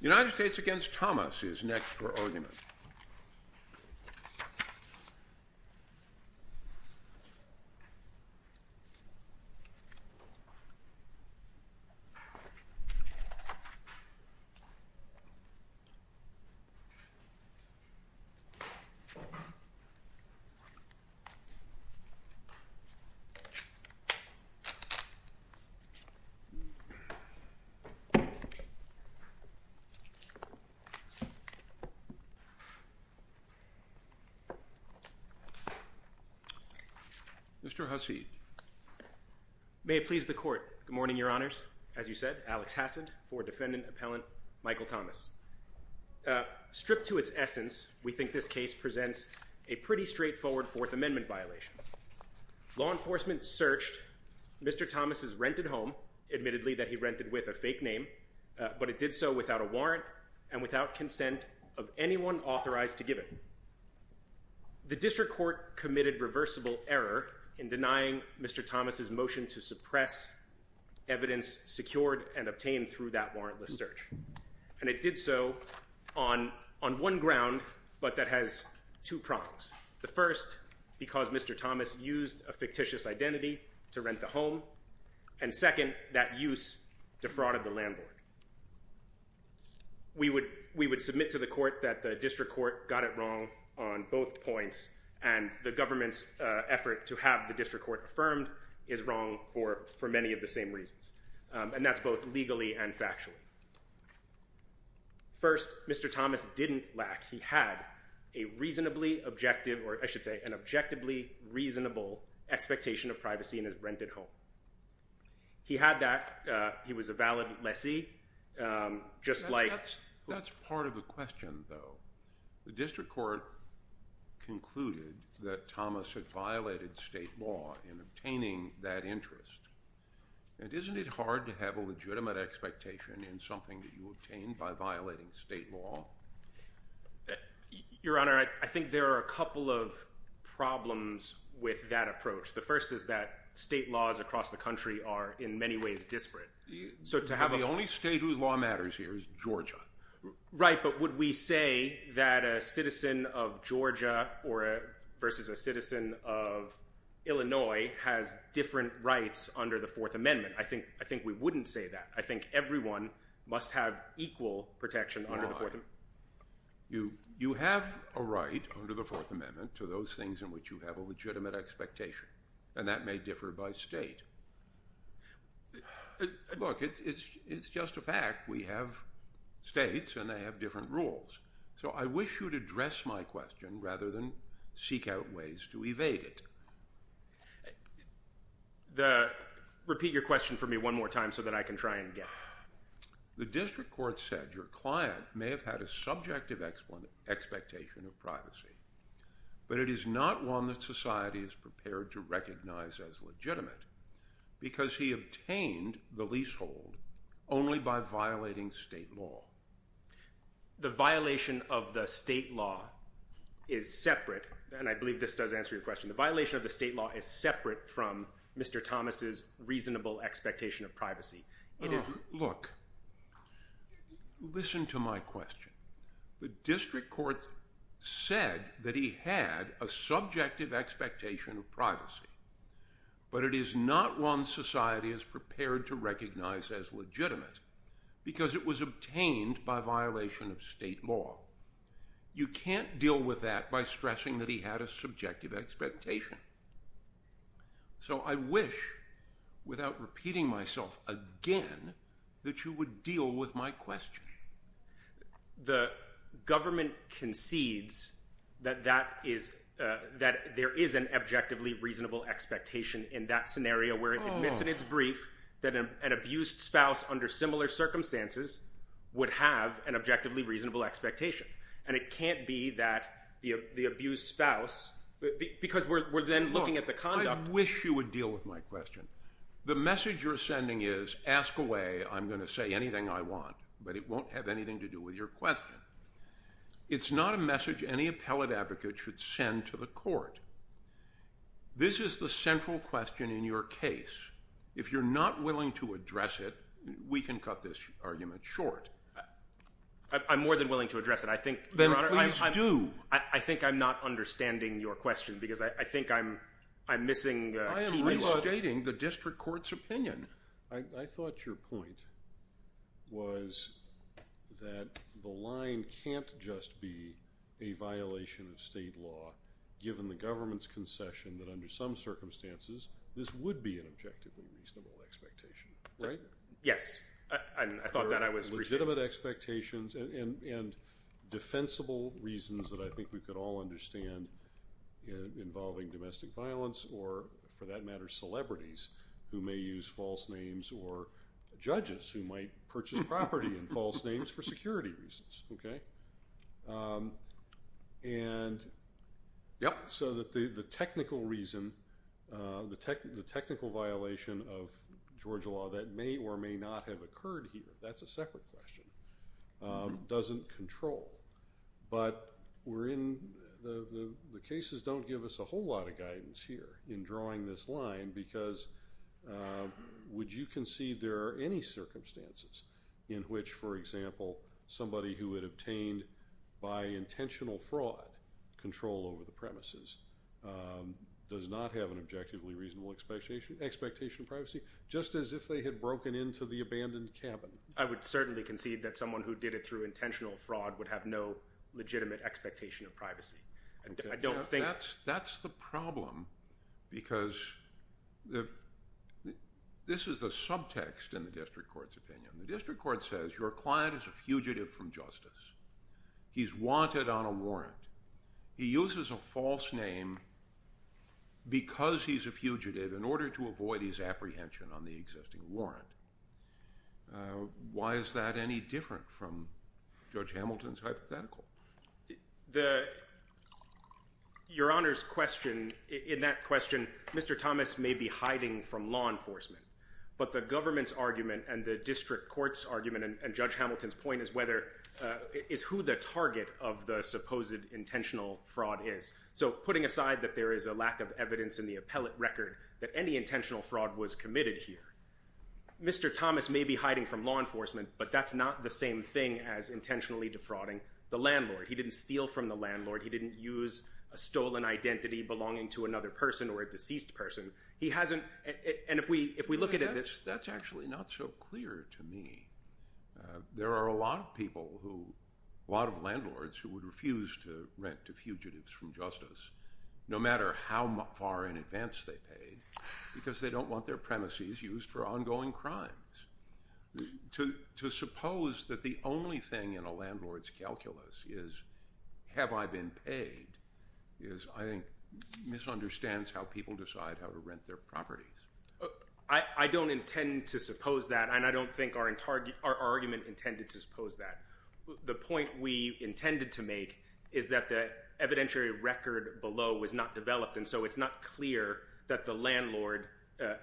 The United States v. Thomas is next for argument. Mr. Hasid May it please the Court, good morning, Your Honors. As you said, Alex Hasid for Defendant Appellant Michael Thomas. Stripped to its essence, we think this case presents a pretty straightforward Fourth Amendment violation. Law enforcement searched Mr. Thomas' rented home, admittedly that he rented with a fake name, but it did so without a warrant and without consent of anyone authorized to give it. The District Court committed reversible error in denying Mr. Thomas' motion to suppress evidence secured and obtained through that warrantless search. And it did so on one ground, but that has two prongs. The first, because Mr. Thomas used a fictitious identity to rent the home. And second, that use defrauded the landlord. We would submit to the Court that the District Court got it wrong on both points, and the government's effort to have the District Court affirmed is wrong for many of the same reasons. And that's both legally and factually. First, Mr. Thomas didn't lack, he had a reasonably objective or I should say an objectively reasonable expectation of privacy in his rented home. He had that, he was a valid lessee, just like... That's part of the question though. The District Court concluded that Thomas had violated state law in obtaining that interest. And isn't it hard to have a legitimate expectation in something that you obtained by violating state law? Your Honor, I think there are a couple of problems with that approach. The first is that state laws across the country are in many ways disparate. So to have a... The only state whose law matters here is Georgia. Right, but would we say that a citizen of Georgia versus a citizen of Illinois has different rights under the Fourth Amendment? I think we wouldn't say that. I think everyone must have equal protection under the Fourth Amendment. You have a right under the Fourth Amendment to those things in which you have a legitimate expectation and that may differ by state. Look, it's just a fact. We have states and they have different rules. So I wish you'd address my question rather than seek out ways to evade it. Repeat your question for me one more time so that I can try again. The District Court said your client may have had a subjective expectation of privacy, but it is not one that society is prepared to recognize as legitimate because he obtained the leasehold only by violating state law. The violation of the state law is separate, and I believe this does answer your question. The violation of the state law is separate from Mr. Thomas's reasonable expectation of privacy. It is... Look, listen to my question. The District Court said that he had a subjective expectation of privacy, but it is not one society is prepared to recognize as legitimate because it was obtained by violation of state law. You can't deal with that by stressing that he had a subjective expectation. So I wish, without repeating myself again, that you would deal with my question. The government concedes that there is an objectively reasonable expectation in that scenario where it admits in its brief that an abused spouse under similar circumstances would have an objection, and it can't be that the abused spouse... Because we're then looking at the conduct... Look, I wish you would deal with my question. The message you're sending is, ask away, I'm going to say anything I want, but it won't have anything to do with your question. It's not a message any appellate advocate should send to the court. This is the central question in your case. If you're not willing to address it, we can cut this argument short. I'm more than willing to address it. I think... Then please do. I think I'm not understanding your question because I think I'm missing a key... I am restating the district court's opinion. I thought your point was that the line can't just be a violation of state law given the government's concession that under some circumstances, this would be an objectively reasonable expectation, right? Yes. I thought that I was... Legitimate expectations and defensible reasons that I think we could all understand involving domestic violence or, for that matter, celebrities who may use false names or judges who might purchase property in false names for security reasons, okay? And so that the technical reason, the technical violation of Georgia law that may or may not have occurred here, that's a separate question, doesn't control. But we're in... The cases don't give us a whole lot of guidance here in drawing this line because would you concede there are any circumstances in which, for example, somebody who had obtained by intentional fraud control over the premises does not have an objectively reasonable expectation of privacy, just as if they had broken into the abandoned cabin? I would certainly concede that someone who did it through intentional fraud would have no legitimate expectation of privacy, and I don't think... That's the problem because this is the subtext in the district court's opinion. The district court says your client is a fugitive from justice. He's wanted on a warrant. He uses a false name because he's a fugitive in order to avoid his apprehension on the existing warrant. Why is that any different from Judge Hamilton's hypothetical? Your Honor's question, in that question, Mr. Thomas may be hiding from law enforcement, but the government's argument and the district court's argument and Judge Hamilton's point is who the target of the supposed intentional fraud is. So putting aside that there is a lack of evidence in the appellate record that any intentional fraud was committed here, Mr. Thomas may be hiding from law enforcement, but that's not the same thing as intentionally defrauding the landlord. He didn't steal from the landlord. He didn't use a stolen identity belonging to another person or a deceased person. He hasn't... And if we look at it... That's actually not so clear to me. There are a lot of people who, a lot of landlords, who would refuse to rent to fugitives from justice, no matter how far in advance they paid, because they don't want their premises used for ongoing crimes. To suppose that the only thing in a landlord's calculus is, have I been paid, is, I think, misunderstands how people decide how to rent their properties. I don't intend to suppose that, and I don't think our argument intended to suppose that. The point we intended to make is that the evidentiary record below was not developed, and so it's not clear that the landlord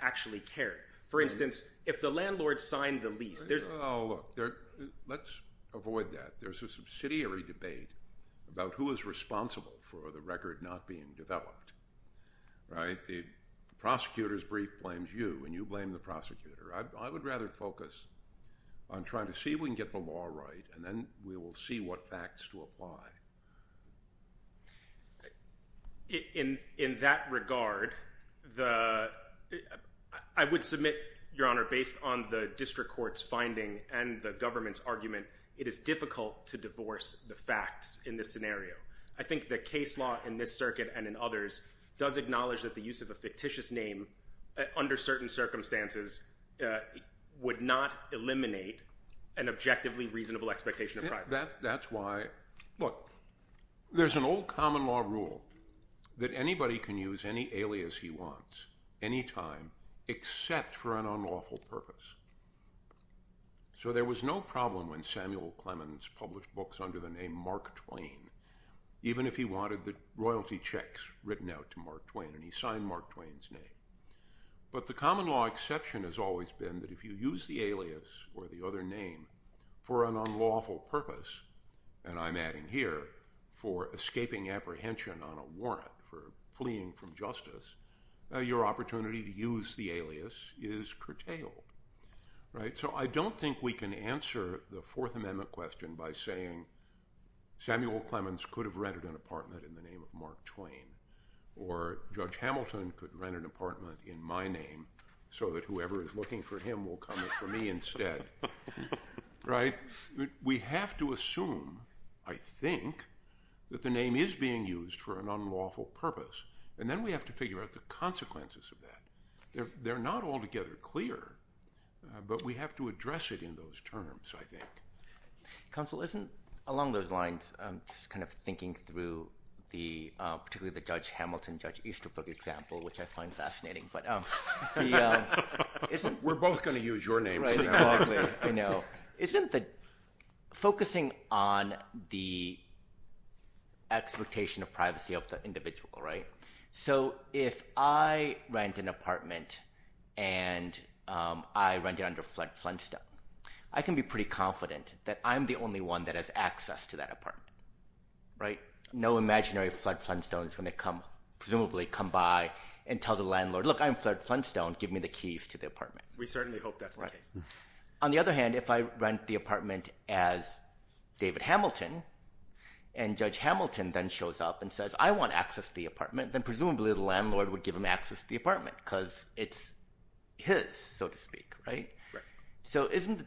actually cared. For instance, if the landlord signed the lease, there's... Oh, look, let's avoid that. There's a subsidiary debate about who is responsible for the record not being developed, right? If the prosecutor's brief blames you, and you blame the prosecutor, I would rather focus on trying to see if we can get the law right, and then we will see what facts to apply. In that regard, the... I would submit, Your Honor, based on the district court's finding and the government's argument, it is difficult to divorce the facts in this scenario. I think the case law in this circuit and in others does acknowledge that the use of a fictitious name under certain circumstances would not eliminate an objectively reasonable expectation of privacy. That's why... Look, there's an old common law rule that anybody can use any alias he wants, any time, except for an unlawful purpose. So there was no problem when Samuel Clemens published books under the name Mark Twain, even if he wanted the royalty checks written out to Mark Twain, and he signed Mark Twain's name. But the common law exception has always been that if you use the alias or the other name for an unlawful purpose, and I'm adding here for escaping apprehension on a warrant, for fleeing from justice, your opportunity to use the alias is curtailed. Right? So I don't think we can answer the Fourth Amendment question by saying Samuel Clemens could have rented an apartment in the name of Mark Twain, or Judge Hamilton could rent an apartment in my name so that whoever is looking for him will come for me instead. Right? We have to assume, I think, that the name is being used for an unlawful purpose, and then we have to figure out the consequences of that. They're not altogether clear, but we have to address it in those terms, I think. Counsel, isn't, along those lines, just kind of thinking through the, particularly the Judge Hamilton, Judge Easterbrook example, which I find fascinating, but isn't... We're both going to use your names. Right, exactly. I know. Isn't the focusing on the expectation of privacy of the individual, right? So if I rent an apartment, and I rent it under Flood Flintstone, I can be pretty confident that I'm the only one that has access to that apartment. Right? No imaginary Flood Flintstone is going to come, presumably come by, and tell the landlord, look, I'm Flood Flintstone, give me the keys to the apartment. We certainly hope that's the case. On the other hand, if I rent the apartment as David Hamilton, and Judge Hamilton then shows up and says, I want access to the apartment, then presumably the landlord would give him access to the apartment, because it's his, so to speak, right? Right. So isn't,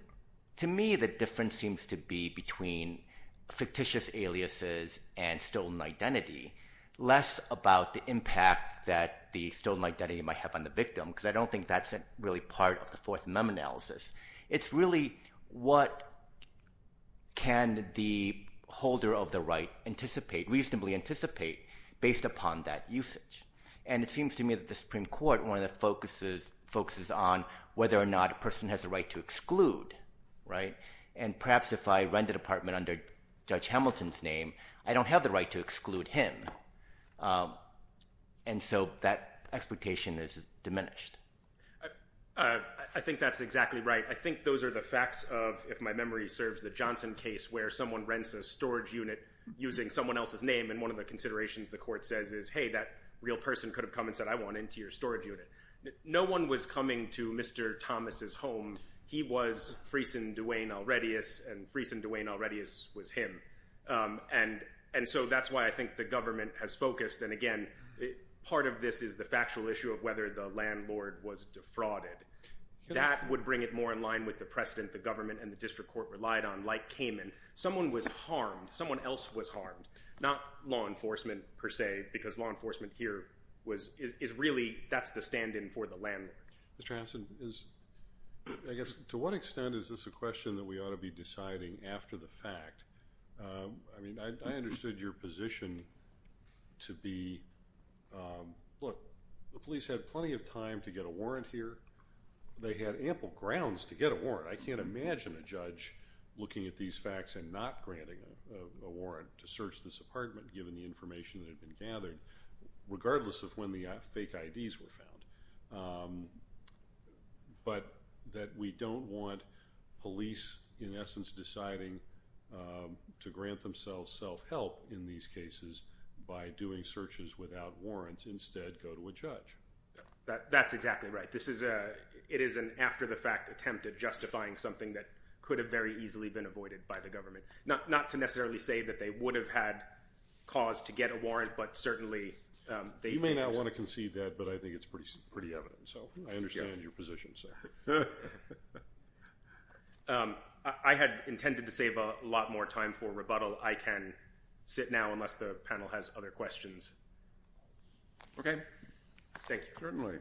to me, the difference seems to be between fictitious aliases and stolen identity, less about the impact that the stolen identity might have on the victim, because I don't think that's really part of the Fourth Amendment analysis. It's really what can the holder of the right anticipate, reasonably anticipate, based upon that usage. And it seems to me that the Supreme Court, one of the focuses, focuses on whether or not a person has the right to exclude, right? And perhaps if I rent an apartment under Judge Hamilton's name, I don't have the right to exclude him. And so that expectation is diminished. I think that's exactly right. I think those are the facts of, if my memory serves, the Johnson case, where someone rents a storage unit using someone else's name, and one of the considerations the court says is, hey, that real person could have come and said, I want into your storage unit. No one was coming to Mr. Thomas' home. He was Friesen Duane Alredious, and Friesen Duane Alredious was him. And so that's why I think the government has focused. And again, part of this is the factual issue of whether the landlord was defrauded. That would bring it more in line with the precedent the government and the district court relied on, like Cayman. Someone was harmed. Someone else was harmed. Not law enforcement, per se, because law enforcement here is really, that's the stand-in for the landlord. Mr. Hanson, I guess, to what extent is this a question that we ought to be deciding after the fact? I mean, I understood your position to be, look, the police had plenty of time to get a warrant here. They had ample grounds to get a warrant. I can't imagine a judge looking at these facts and not granting a warrant to search this apartment, given the information that had been gathered, regardless of when the fake IDs were found. But that we don't want police, in essence, deciding to grant themselves self-help in these cases by doing searches without warrants. Instead, go to a judge. That's exactly right. It is an after-the-fact attempt at justifying something that could have very easily been avoided by the government. Not to necessarily say that they would have had cause to get a warrant, but certainly, they did. You may not want to concede that, but I think it's pretty evident. So I understand your position, sir. I had intended to save a lot more time for rebuttal. I can sit now, unless the panel has other questions. Certainly. Yes, sir.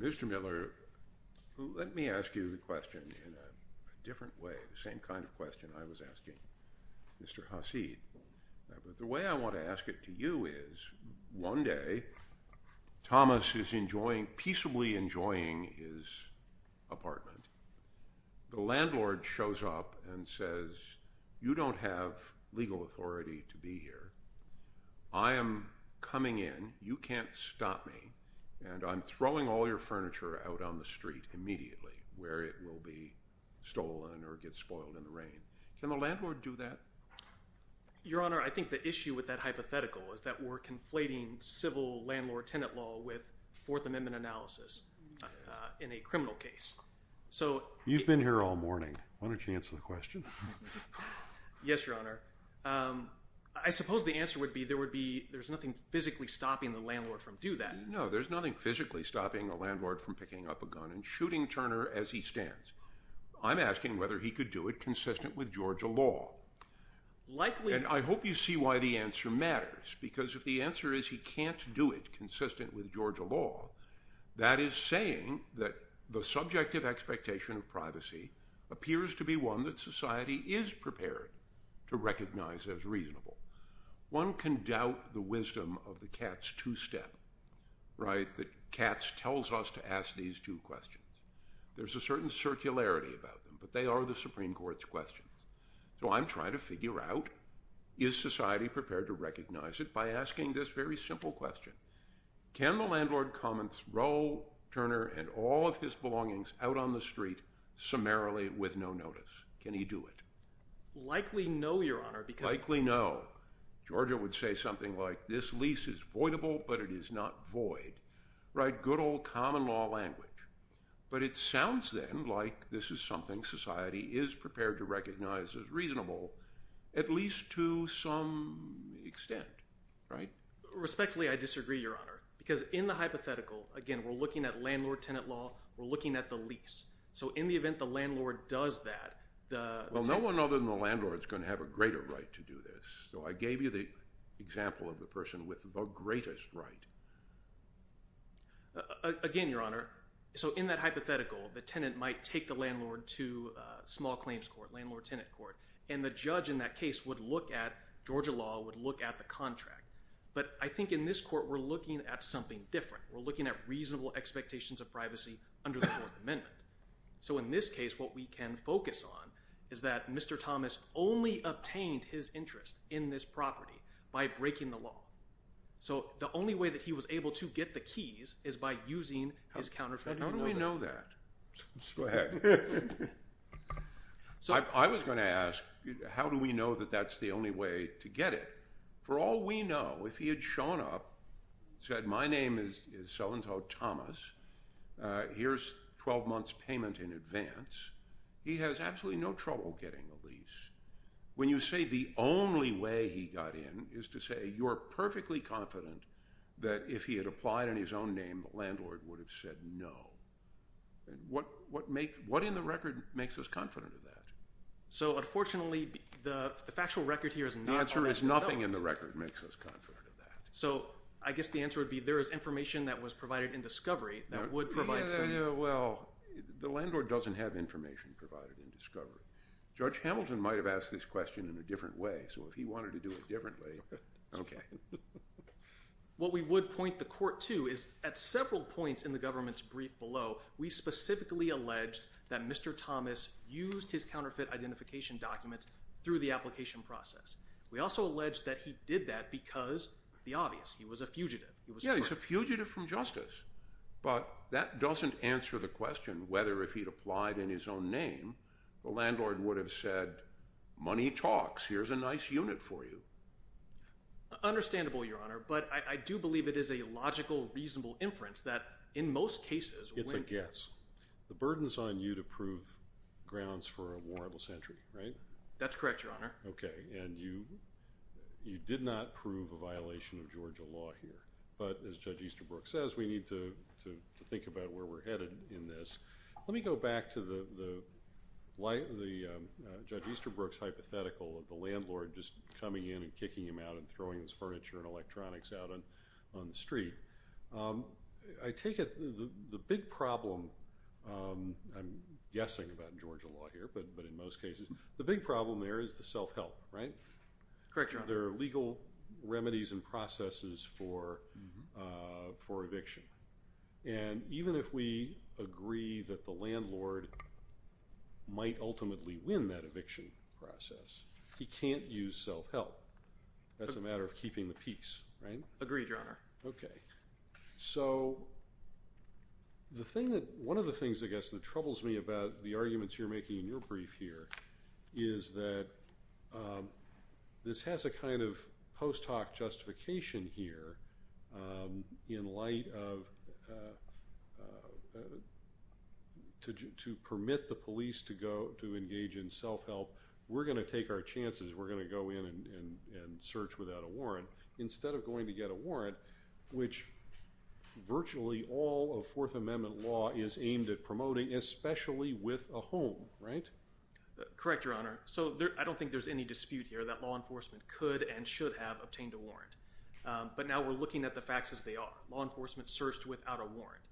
Mr. Miller, let me ask you the question in a different way, the same kind of question I was asking Mr. Hasid. The way I want to ask it to you is, one day, Thomas is peaceably enjoying his apartment. The landlord shows up and says, you don't have legal authority to be here. I am coming in. You can't stop me. And I'm throwing all your furniture out on the street immediately, where it will be stolen or get spoiled in the rain. Can the landlord do that? Your Honor, I think the issue with that hypothetical is that we're conflating civil landlord-tenant law with Fourth Amendment analysis in a criminal case. You've been here all morning. Why don't you answer the question? Yes, Your Honor. I suppose the answer would be, there would be there's nothing physically stopping the landlord from doing that. No, there's nothing physically stopping the landlord from picking up a gun and shooting Turner as he stands. I'm asking whether he could do it consistent with Georgia law. Likely. And I hope you see why the answer matters. Because if the answer is he can't do it consistent with Georgia law, that is saying that the subjective expectation of privacy appears to be one that society is prepared to recognize as reasonable. One can doubt the wisdom of the Katz two-step, that Katz tells us to ask these two questions. There's a certain circularity about them, but they are the Supreme Court's questions. So I'm trying to figure out, is society prepared to recognize it by asking this very simple question. Can the landlord come and throw Turner and all of his belongings out on the street summarily with no notice? Can he do it? Likely no, Your Honor, because- Likely no. Georgia would say something like, this lease is voidable, but it is not void. Right, good old common law language. But it sounds, then, like this is something society is prepared to recognize as reasonable, at least to some extent, right? Respectfully, I disagree, Your Honor. Because in the hypothetical, again, we're looking at landlord-tenant law, we're looking at the lease. So in the event the landlord does that, the- Well, no one other than the landlord's gonna have a greater right to do this. So I gave you the example of the person with the greatest right. Again, Your Honor, so in that hypothetical, the tenant might take the landlord to small claims court, landlord-tenant court, and the judge in that case would look at, Georgia law would look at the contract. But I think in this court, we're looking at something different. We're looking at reasonable expectations of privacy under the Fourth Amendment. So in this case, what we can focus on is that Mr. Thomas only obtained his interest in this property by breaking the law. So the only way that he was able to get the keys is by using his counterfeit- How do we know that? Go ahead. So I was gonna ask, how do we know that that's the only way to get it? For all we know, if he had shown up, said my name is so-and-so Thomas, here's 12 months payment in advance, he has absolutely no trouble getting a lease. When you say the only way he got in is to say you're perfectly confident that if he had applied in his own name, the landlord would have said no. What in the record makes us confident of that? So unfortunately, the factual record here is not- The answer is nothing in the record makes us confident of that. So I guess the answer would be there is information that was provided in discovery that would provide- Well, the landlord doesn't have information provided in discovery. Judge Hamilton might have asked this question in a different way. So if he wanted to do it differently, okay. What we would point the court to is at several points in the government's brief below, we specifically alleged that Mr. Thomas used his counterfeit identification documents through the application process. We also alleged that he did that because, the obvious, he was a fugitive. He was- Yeah, he's a fugitive from justice. But that doesn't answer the question whether if he'd applied in his own name, the landlord would have said, money talks, here's a nice unit for you. Understandable, Your Honor. But I do believe it is a logical, reasonable inference that in most cases- It's a guess. The burden's on you to prove grounds for a warrantless entry, right? That's correct, Your Honor. Okay, and you did not prove a violation of Georgia law here. But as Judge Easterbrook says, we need to think about where we're headed in this. Let me go back to the Judge Easterbrook's hypothetical of the landlord just coming in and kicking him out and throwing his furniture and electronics out on the street. I take it, the big problem, I'm guessing about Georgia law here, but in most cases, the big problem there is the self-help, right? Correct, Your Honor. There are legal remedies and processes for eviction. And even if we agree that the landlord might ultimately win that eviction process, he can't use self-help. That's a matter of keeping the peace, right? Agreed, Your Honor. Okay. So, one of the things, I guess, that troubles me about the arguments you're making in your brief here is that this has a kind of post-hoc justification here in light of, to permit the police to engage in self-help. We're gonna take our chances. We're gonna go in and search without a warrant instead of going to get a warrant, which virtually all of Fourth Amendment law is aimed at promoting, especially with a home, right? Correct, Your Honor. So, I don't think there's any dispute here that law enforcement could and should have obtained a warrant. But now we're looking at the facts as they are. Law enforcement searched without a warrant.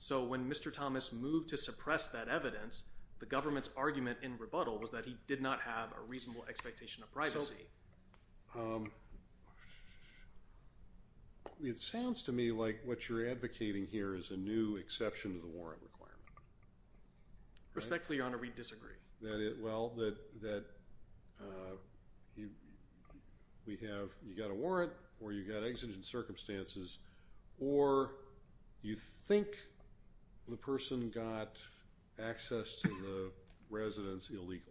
So, when Mr. Thomas moved to suppress that evidence, the government's argument in rebuttal was that he did not have a reasonable expectation of privacy. It sounds to me like what you're advocating here is a new exception to the warrant requirement. Respectfully, Your Honor, we disagree. Well, that we have, you got a warrant or you got exigent circumstances or you think the person got access to the residence illegally.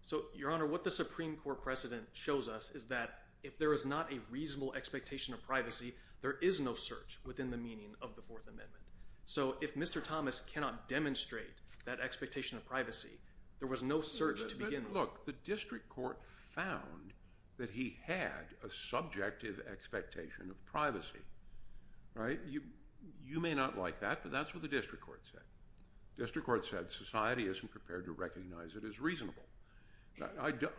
So, Your Honor, what the Supreme Court precedent shows us is that if there is not a reasonable expectation of privacy, there is no search within the meaning of the Fourth Amendment. So, if Mr. Thomas cannot demonstrate that expectation of privacy, there was no search to begin with. Look, the district court found that he had a subjective expectation of privacy, right? You may not like that, but that's what the district court said. District court said society isn't prepared to recognize it as reasonable.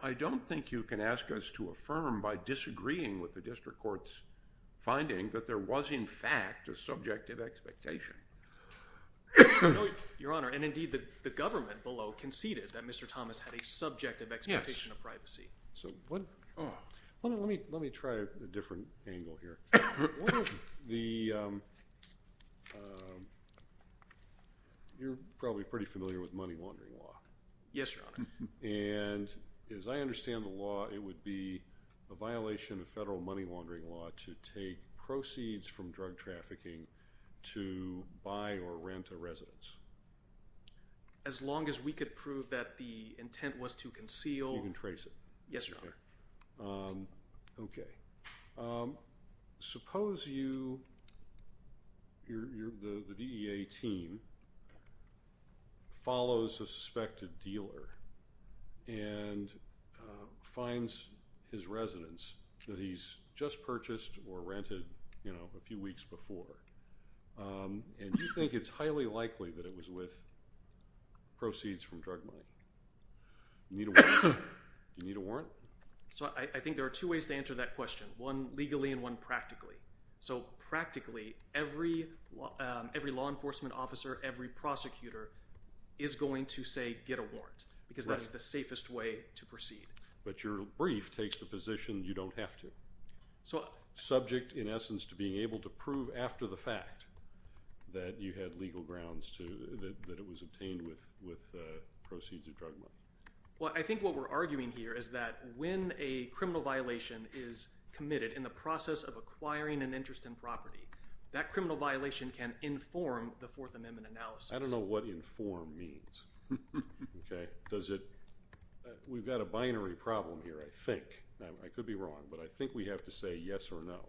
I don't think you can ask us to affirm by disagreeing with the district court's finding that there was in fact a subjective expectation. Your Honor, and indeed the government below conceded that Mr. Thomas had a subjective expectation of privacy. So, let me try a different angle here. You're probably pretty familiar with money laundering law. Yes, Your Honor. And as I understand the law, it would be a violation of federal money laundering law to take proceeds from drug trafficking to buy or rent a residence. As long as we could prove that the intent was to conceal. You can trace it. Yes, Your Honor. Okay. Suppose you, the DEA team follows a suspected dealer and finds his residence that he's just purchased or rented a few weeks before. And you think it's highly likely that it was with proceeds from drug money. You need a warrant? So, I think there are two ways to answer that question. One legally and one practically. So, practically every law enforcement officer, every prosecutor is going to say get a warrant because that's the safest way to proceed. But your brief takes the position you don't have to. So, subject in essence to being able to prove after the fact that you had legal grounds to that it was obtained with proceeds of drug money. Well, I think what we're arguing here is that when a criminal violation is committed in the process of acquiring an interest in property, that criminal violation can inform the Fourth Amendment analysis. I don't know what inform means. We've got a binary problem here, I think. I could be wrong, but I think we have to say yes or no.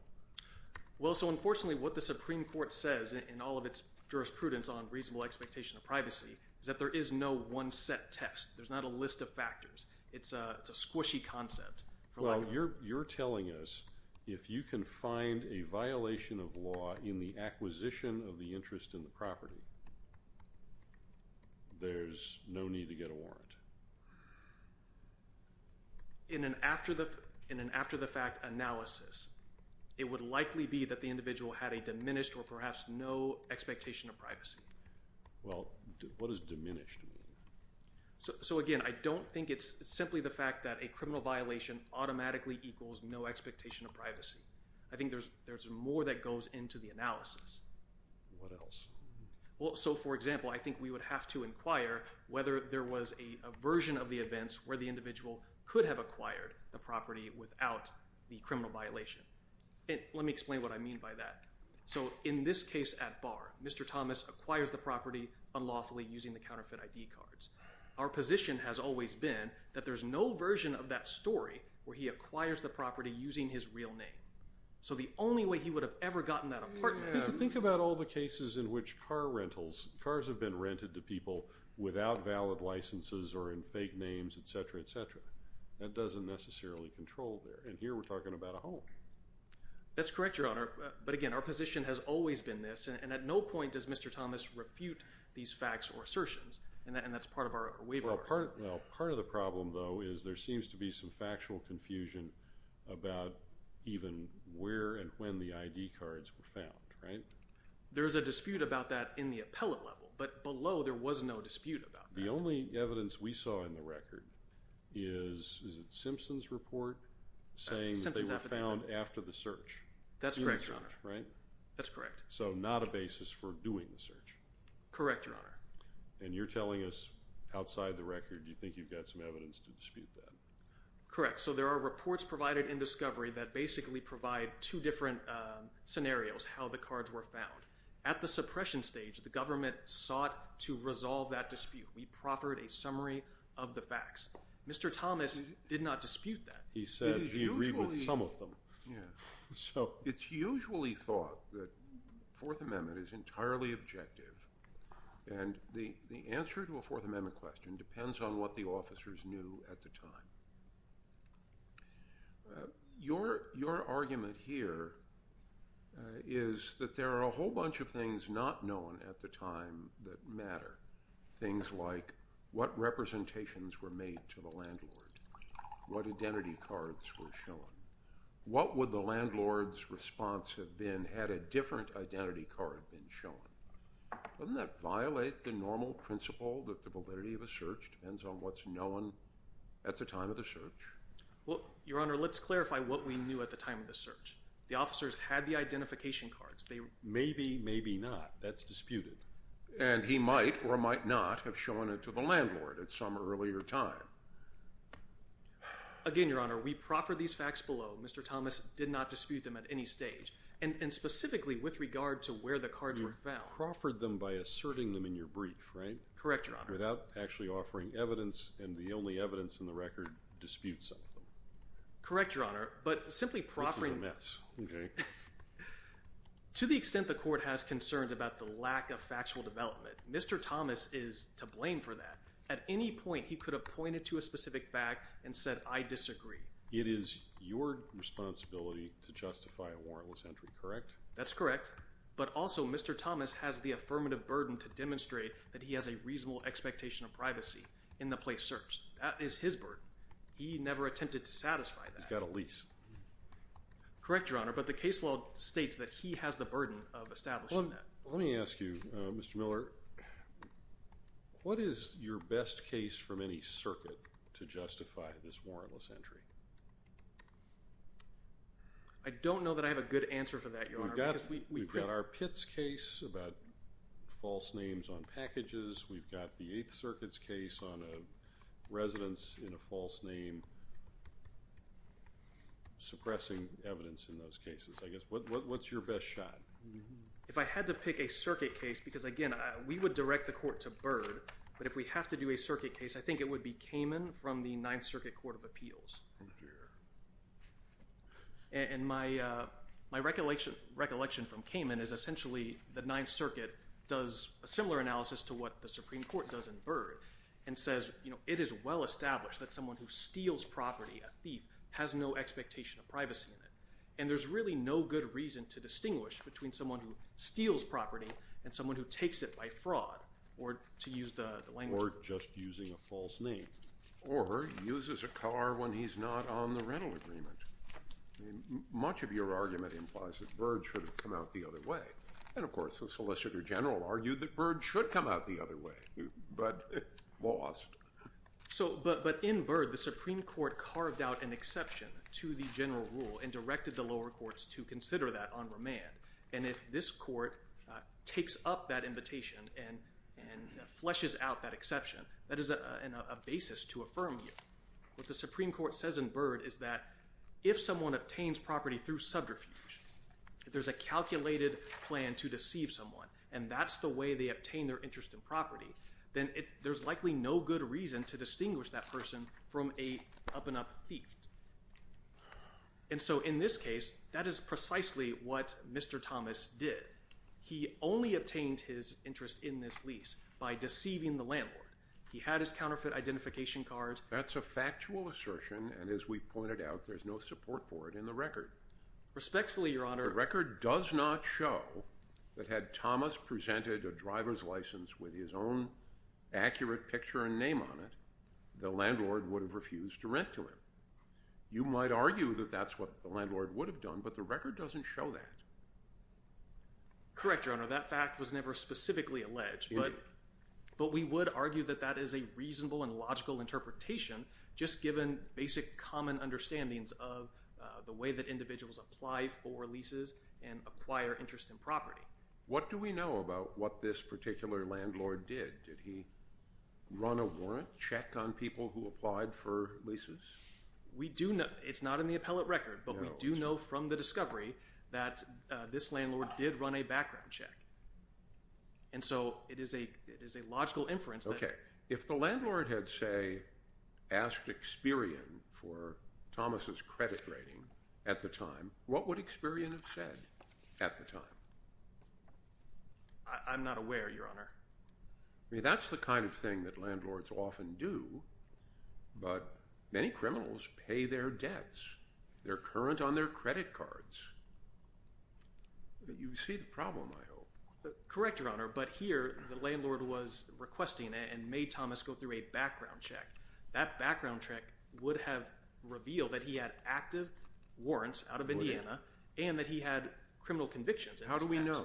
Well, so unfortunately what the Supreme Court says in all of its jurisprudence on reasonable expectation of privacy is that there is no one set test. There's not a list of factors. It's a squishy concept. Well, you're telling us if you can find a violation of law in the acquisition of the interest in the property, there's no need to get a warrant. In an after the fact analysis, it would likely be that the individual had a diminished or perhaps no expectation of privacy. Well, what does diminished mean? So again, I don't think it's simply the fact that a criminal violation automatically equals no expectation of privacy. I think there's more that goes into the analysis. What else? Well, so for example, I think we would have to inquire whether there was a version of the events where the individual could have acquired the property without the criminal violation. Let me explain what I mean by that. So in this case at bar, Mr. Thomas acquires the property unlawfully using the counterfeit ID cards. Our position has always been that there's no version of that story where he acquires the property using his real name. So the only way he would have ever gotten that apartment. Think about all the cases in which car rentals, cars have been rented to people without valid licenses or in fake names, et cetera, et cetera. That doesn't necessarily control there. And here we're talking about a home. That's correct, Your Honor. But again, our position has always been this. And at no point does Mr. Thomas refute these facts or assertions. And that's part of our waiver. Well, part of the problem though is there seems to be some factual confusion about even where and when the ID cards were found, right? There's a dispute about that in the appellate level, but below there was no dispute about that. The only evidence we saw in the record is, is it Simpson's report saying they were found after the search? That's correct, Your Honor. That's correct. So not a basis for doing the search. Correct, Your Honor. And you're telling us outside the record, you think you've got some evidence to dispute that? Correct, so there are reports provided in discovery that basically provide two different scenarios, how the cards were found. At the suppression stage, the government sought to resolve that dispute. We proffered a summary of the facts. Mr. Thomas did not dispute that. He said he agreed with some of them. It's usually thought that Fourth Amendment is entirely objective. And the answer to a Fourth Amendment question depends on what the officers knew at the time. Your argument here is that there are a whole bunch of things not known at the time that matter. Things like what representations were made to the landlord? What identity cards were shown? What would the landlord's response have been had a different identity card been shown? Doesn't that violate the normal principle that the validity of a search depends on what's known at the time of the search? Well, Your Honor, let's clarify what we knew at the time of the search. The officers had the identification cards. Maybe, maybe not. That's disputed. And he might or might not have shown it to the landlord at some earlier time. Again, Your Honor, we proffered these facts below. Mr. Thomas did not dispute them at any stage. And specifically with regard to where the cards were found. You proffered them by asserting them in your brief, right? Correct, Your Honor. Without actually offering evidence. And the only evidence in the record disputes some of them. Correct, Your Honor. But simply proffering- This is a mess, okay. To the extent the court has concerns about the lack of factual development, Mr. Thomas is to blame for that. At any point, he could have pointed to a specific fact and said, I disagree. It is your responsibility to justify a warrantless entry, correct? That's correct. But also, Mr. Thomas has the affirmative burden to demonstrate that he has a reasonable expectation of privacy in the place search. That is his burden. He never attempted to satisfy that. He's got a lease. Correct, Your Honor. But the case law states that he has the burden of establishing that. Well, let me ask you, Mr. Miller. What is your best case from any circuit to justify this warrantless entry? I don't know that I have a good answer for that, Your Honor. We've got our Pitts case about false names on packages. We've got the Eighth Circuit's case on a residence in a false name suppressing evidence in those cases, I guess. What's your best shot? If I had to pick a circuit case, because again, we would direct the court to Byrd, but if we have to do a circuit case, I think it would be Kamen from the Ninth Circuit Court of Appeals. Oh, dear. And my recollection from Kamen is essentially the Ninth Circuit does a similar analysis to what the Supreme Court does in Byrd and says it is well-established that someone who steals property, a thief, has no expectation of privacy in it. And there's really no good reason to distinguish between someone who steals property and someone who takes it by fraud, or to use the language. Or just using a false name. Or uses a car when he's not on the rental agreement. Much of your argument implies that Byrd should have come out the other way. And of course, the Solicitor General argued that Byrd should come out the other way, but lost. So, but in Byrd, the Supreme Court carved out an exception to the general rule and directed the lower courts to consider that on remand. And if this court takes up that invitation and fleshes out that exception, that is a basis to affirm you. What the Supreme Court says in Byrd is that if someone obtains property through subterfuge, if there's a calculated plan to deceive someone, and that's the way they obtain their interest in property, then there's likely no good reason to distinguish that person from a up-and-up thief. And so in this case, that is precisely what Mr. Thomas did. He only obtained his interest in this lease by deceiving the landlord. He had his counterfeit identification cards. That's a factual assertion. And as we pointed out, there's no support for it in the record. Respectfully, Your Honor. The record does not show that had Thomas presented a driver's license with his own accurate picture and name on it, the landlord would have refused to rent to him. You might argue that that's what the landlord would have done, but the record doesn't show that. Correct, Your Honor. That fact was never specifically alleged, but we would argue that that is a reasonable and logical interpretation, just given basic common understandings of the way that individuals apply for leases and acquire interest in property. What do we know about what this particular landlord did? Did he run a warrant check on people who applied for leases? We do know. It's not in the appellate record, but we do know from the discovery that this landlord did run a background check. And so it is a logical inference that- Okay, if the landlord had, say, asked Experian for Thomas's credit rating at the time, what would Experian have said at the time? I'm not aware, Your Honor. I mean, that's the kind of thing that landlords often do, but many criminals pay their debts. They're current on their credit cards. You see the problem, I hope. Correct, Your Honor, but here the landlord was requesting, and made Thomas go through a background check. That background check would have revealed that he had active warrants out of Indiana, and that he had criminal convictions. How do we know?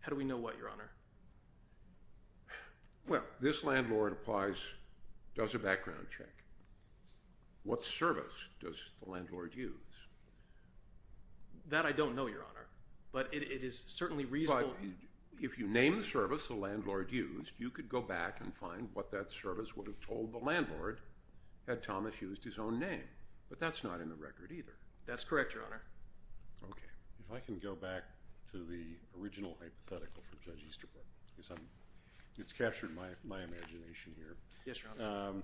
How do we know what, Your Honor? Well, this landlord applies, does a background check. What service does the landlord use? That I don't know, Your Honor, but it is certainly reasonable- If you name the service the landlord used, you could go back and find what that service would have told the landlord had Thomas used his own name, but that's not in the record either. That's correct, Your Honor. Okay, if I can go back to the original hypothetical it's captured my imagination here. Yes, Your Honor.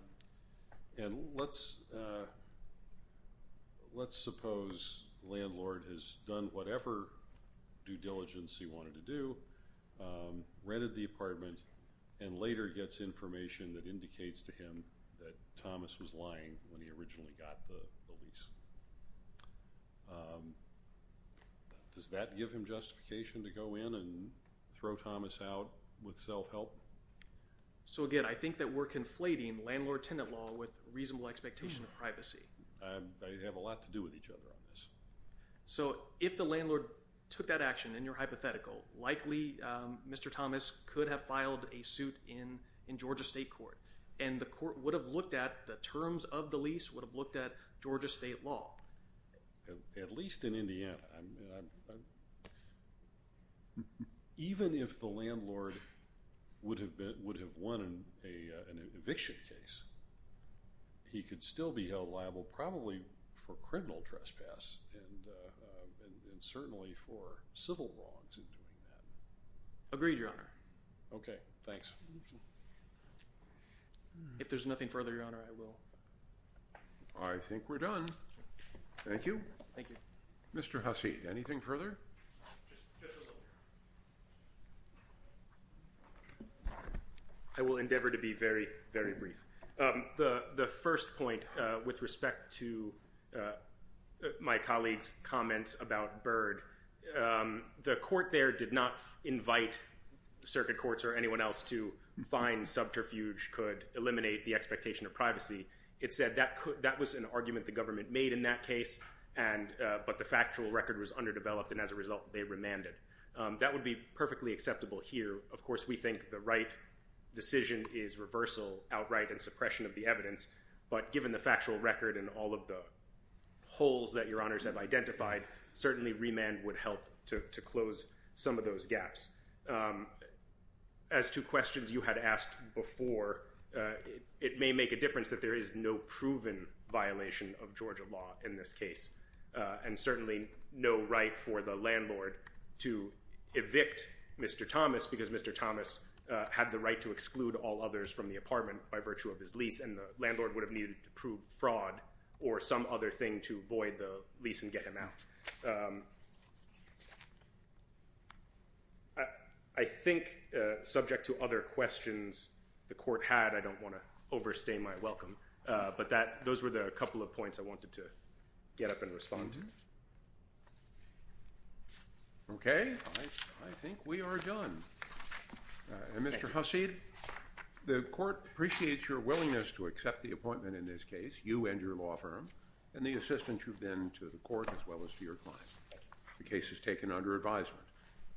And let's suppose landlord has done whatever due diligence he wanted to do, rented the apartment, and later gets information that indicates to him that Thomas was lying when he originally got the lease. Does that give him justification to go in and throw Thomas out with self-help? So again, I think that we're conflating landlord-tenant law with reasonable expectation of privacy. They have a lot to do with each other on this. So if the landlord took that action in your hypothetical, likely Mr. Thomas could have filed a suit in Georgia State Court, and the court would have looked at the terms of the lease, would have looked at Georgia State law. At least in Indiana. I mean, even if the landlord would have won an eviction case, he could still be held liable, probably for criminal trespass, and certainly for civil wrongs in doing that. Agreed, Your Honor. Okay, thanks. If there's nothing further, Your Honor, I will. I think we're done. Thank you. Thank you. Mr. Hasid, anything further? I will endeavor to be very, very brief. The first point with respect to my colleague's comments about Byrd, the court there did not invite circuit courts or anyone else to find subterfuge could eliminate the expectation of privacy. It said that was an argument the government made in that case, but the factual record was underdeveloped, and as a result, they remanded. That would be perfectly acceptable here. Of course, we think the right decision is reversal outright and suppression of the evidence, but given the factual record and all of the holes that Your Honors have identified, certainly remand would help to close some of those gaps. As to questions you had asked before, it may make a difference that there is no proven violation of Georgia law in this case, and certainly no right for the landlord to evict Mr. Thomas because Mr. Thomas had the right to exclude all others from the apartment by virtue of his lease, and the landlord would have needed to prove fraud or some other thing to void the lease and get him out. I think subject to other questions the court had, and I don't want to overstay my welcome, but those were the couple of points I wanted to get up and respond to. Okay, I think we are done. And Mr. Hasid, the court appreciates your willingness to accept the appointment in this case, you and your law firm, and the assistance you've been to the court as well as to your client. The case is taken under advisement.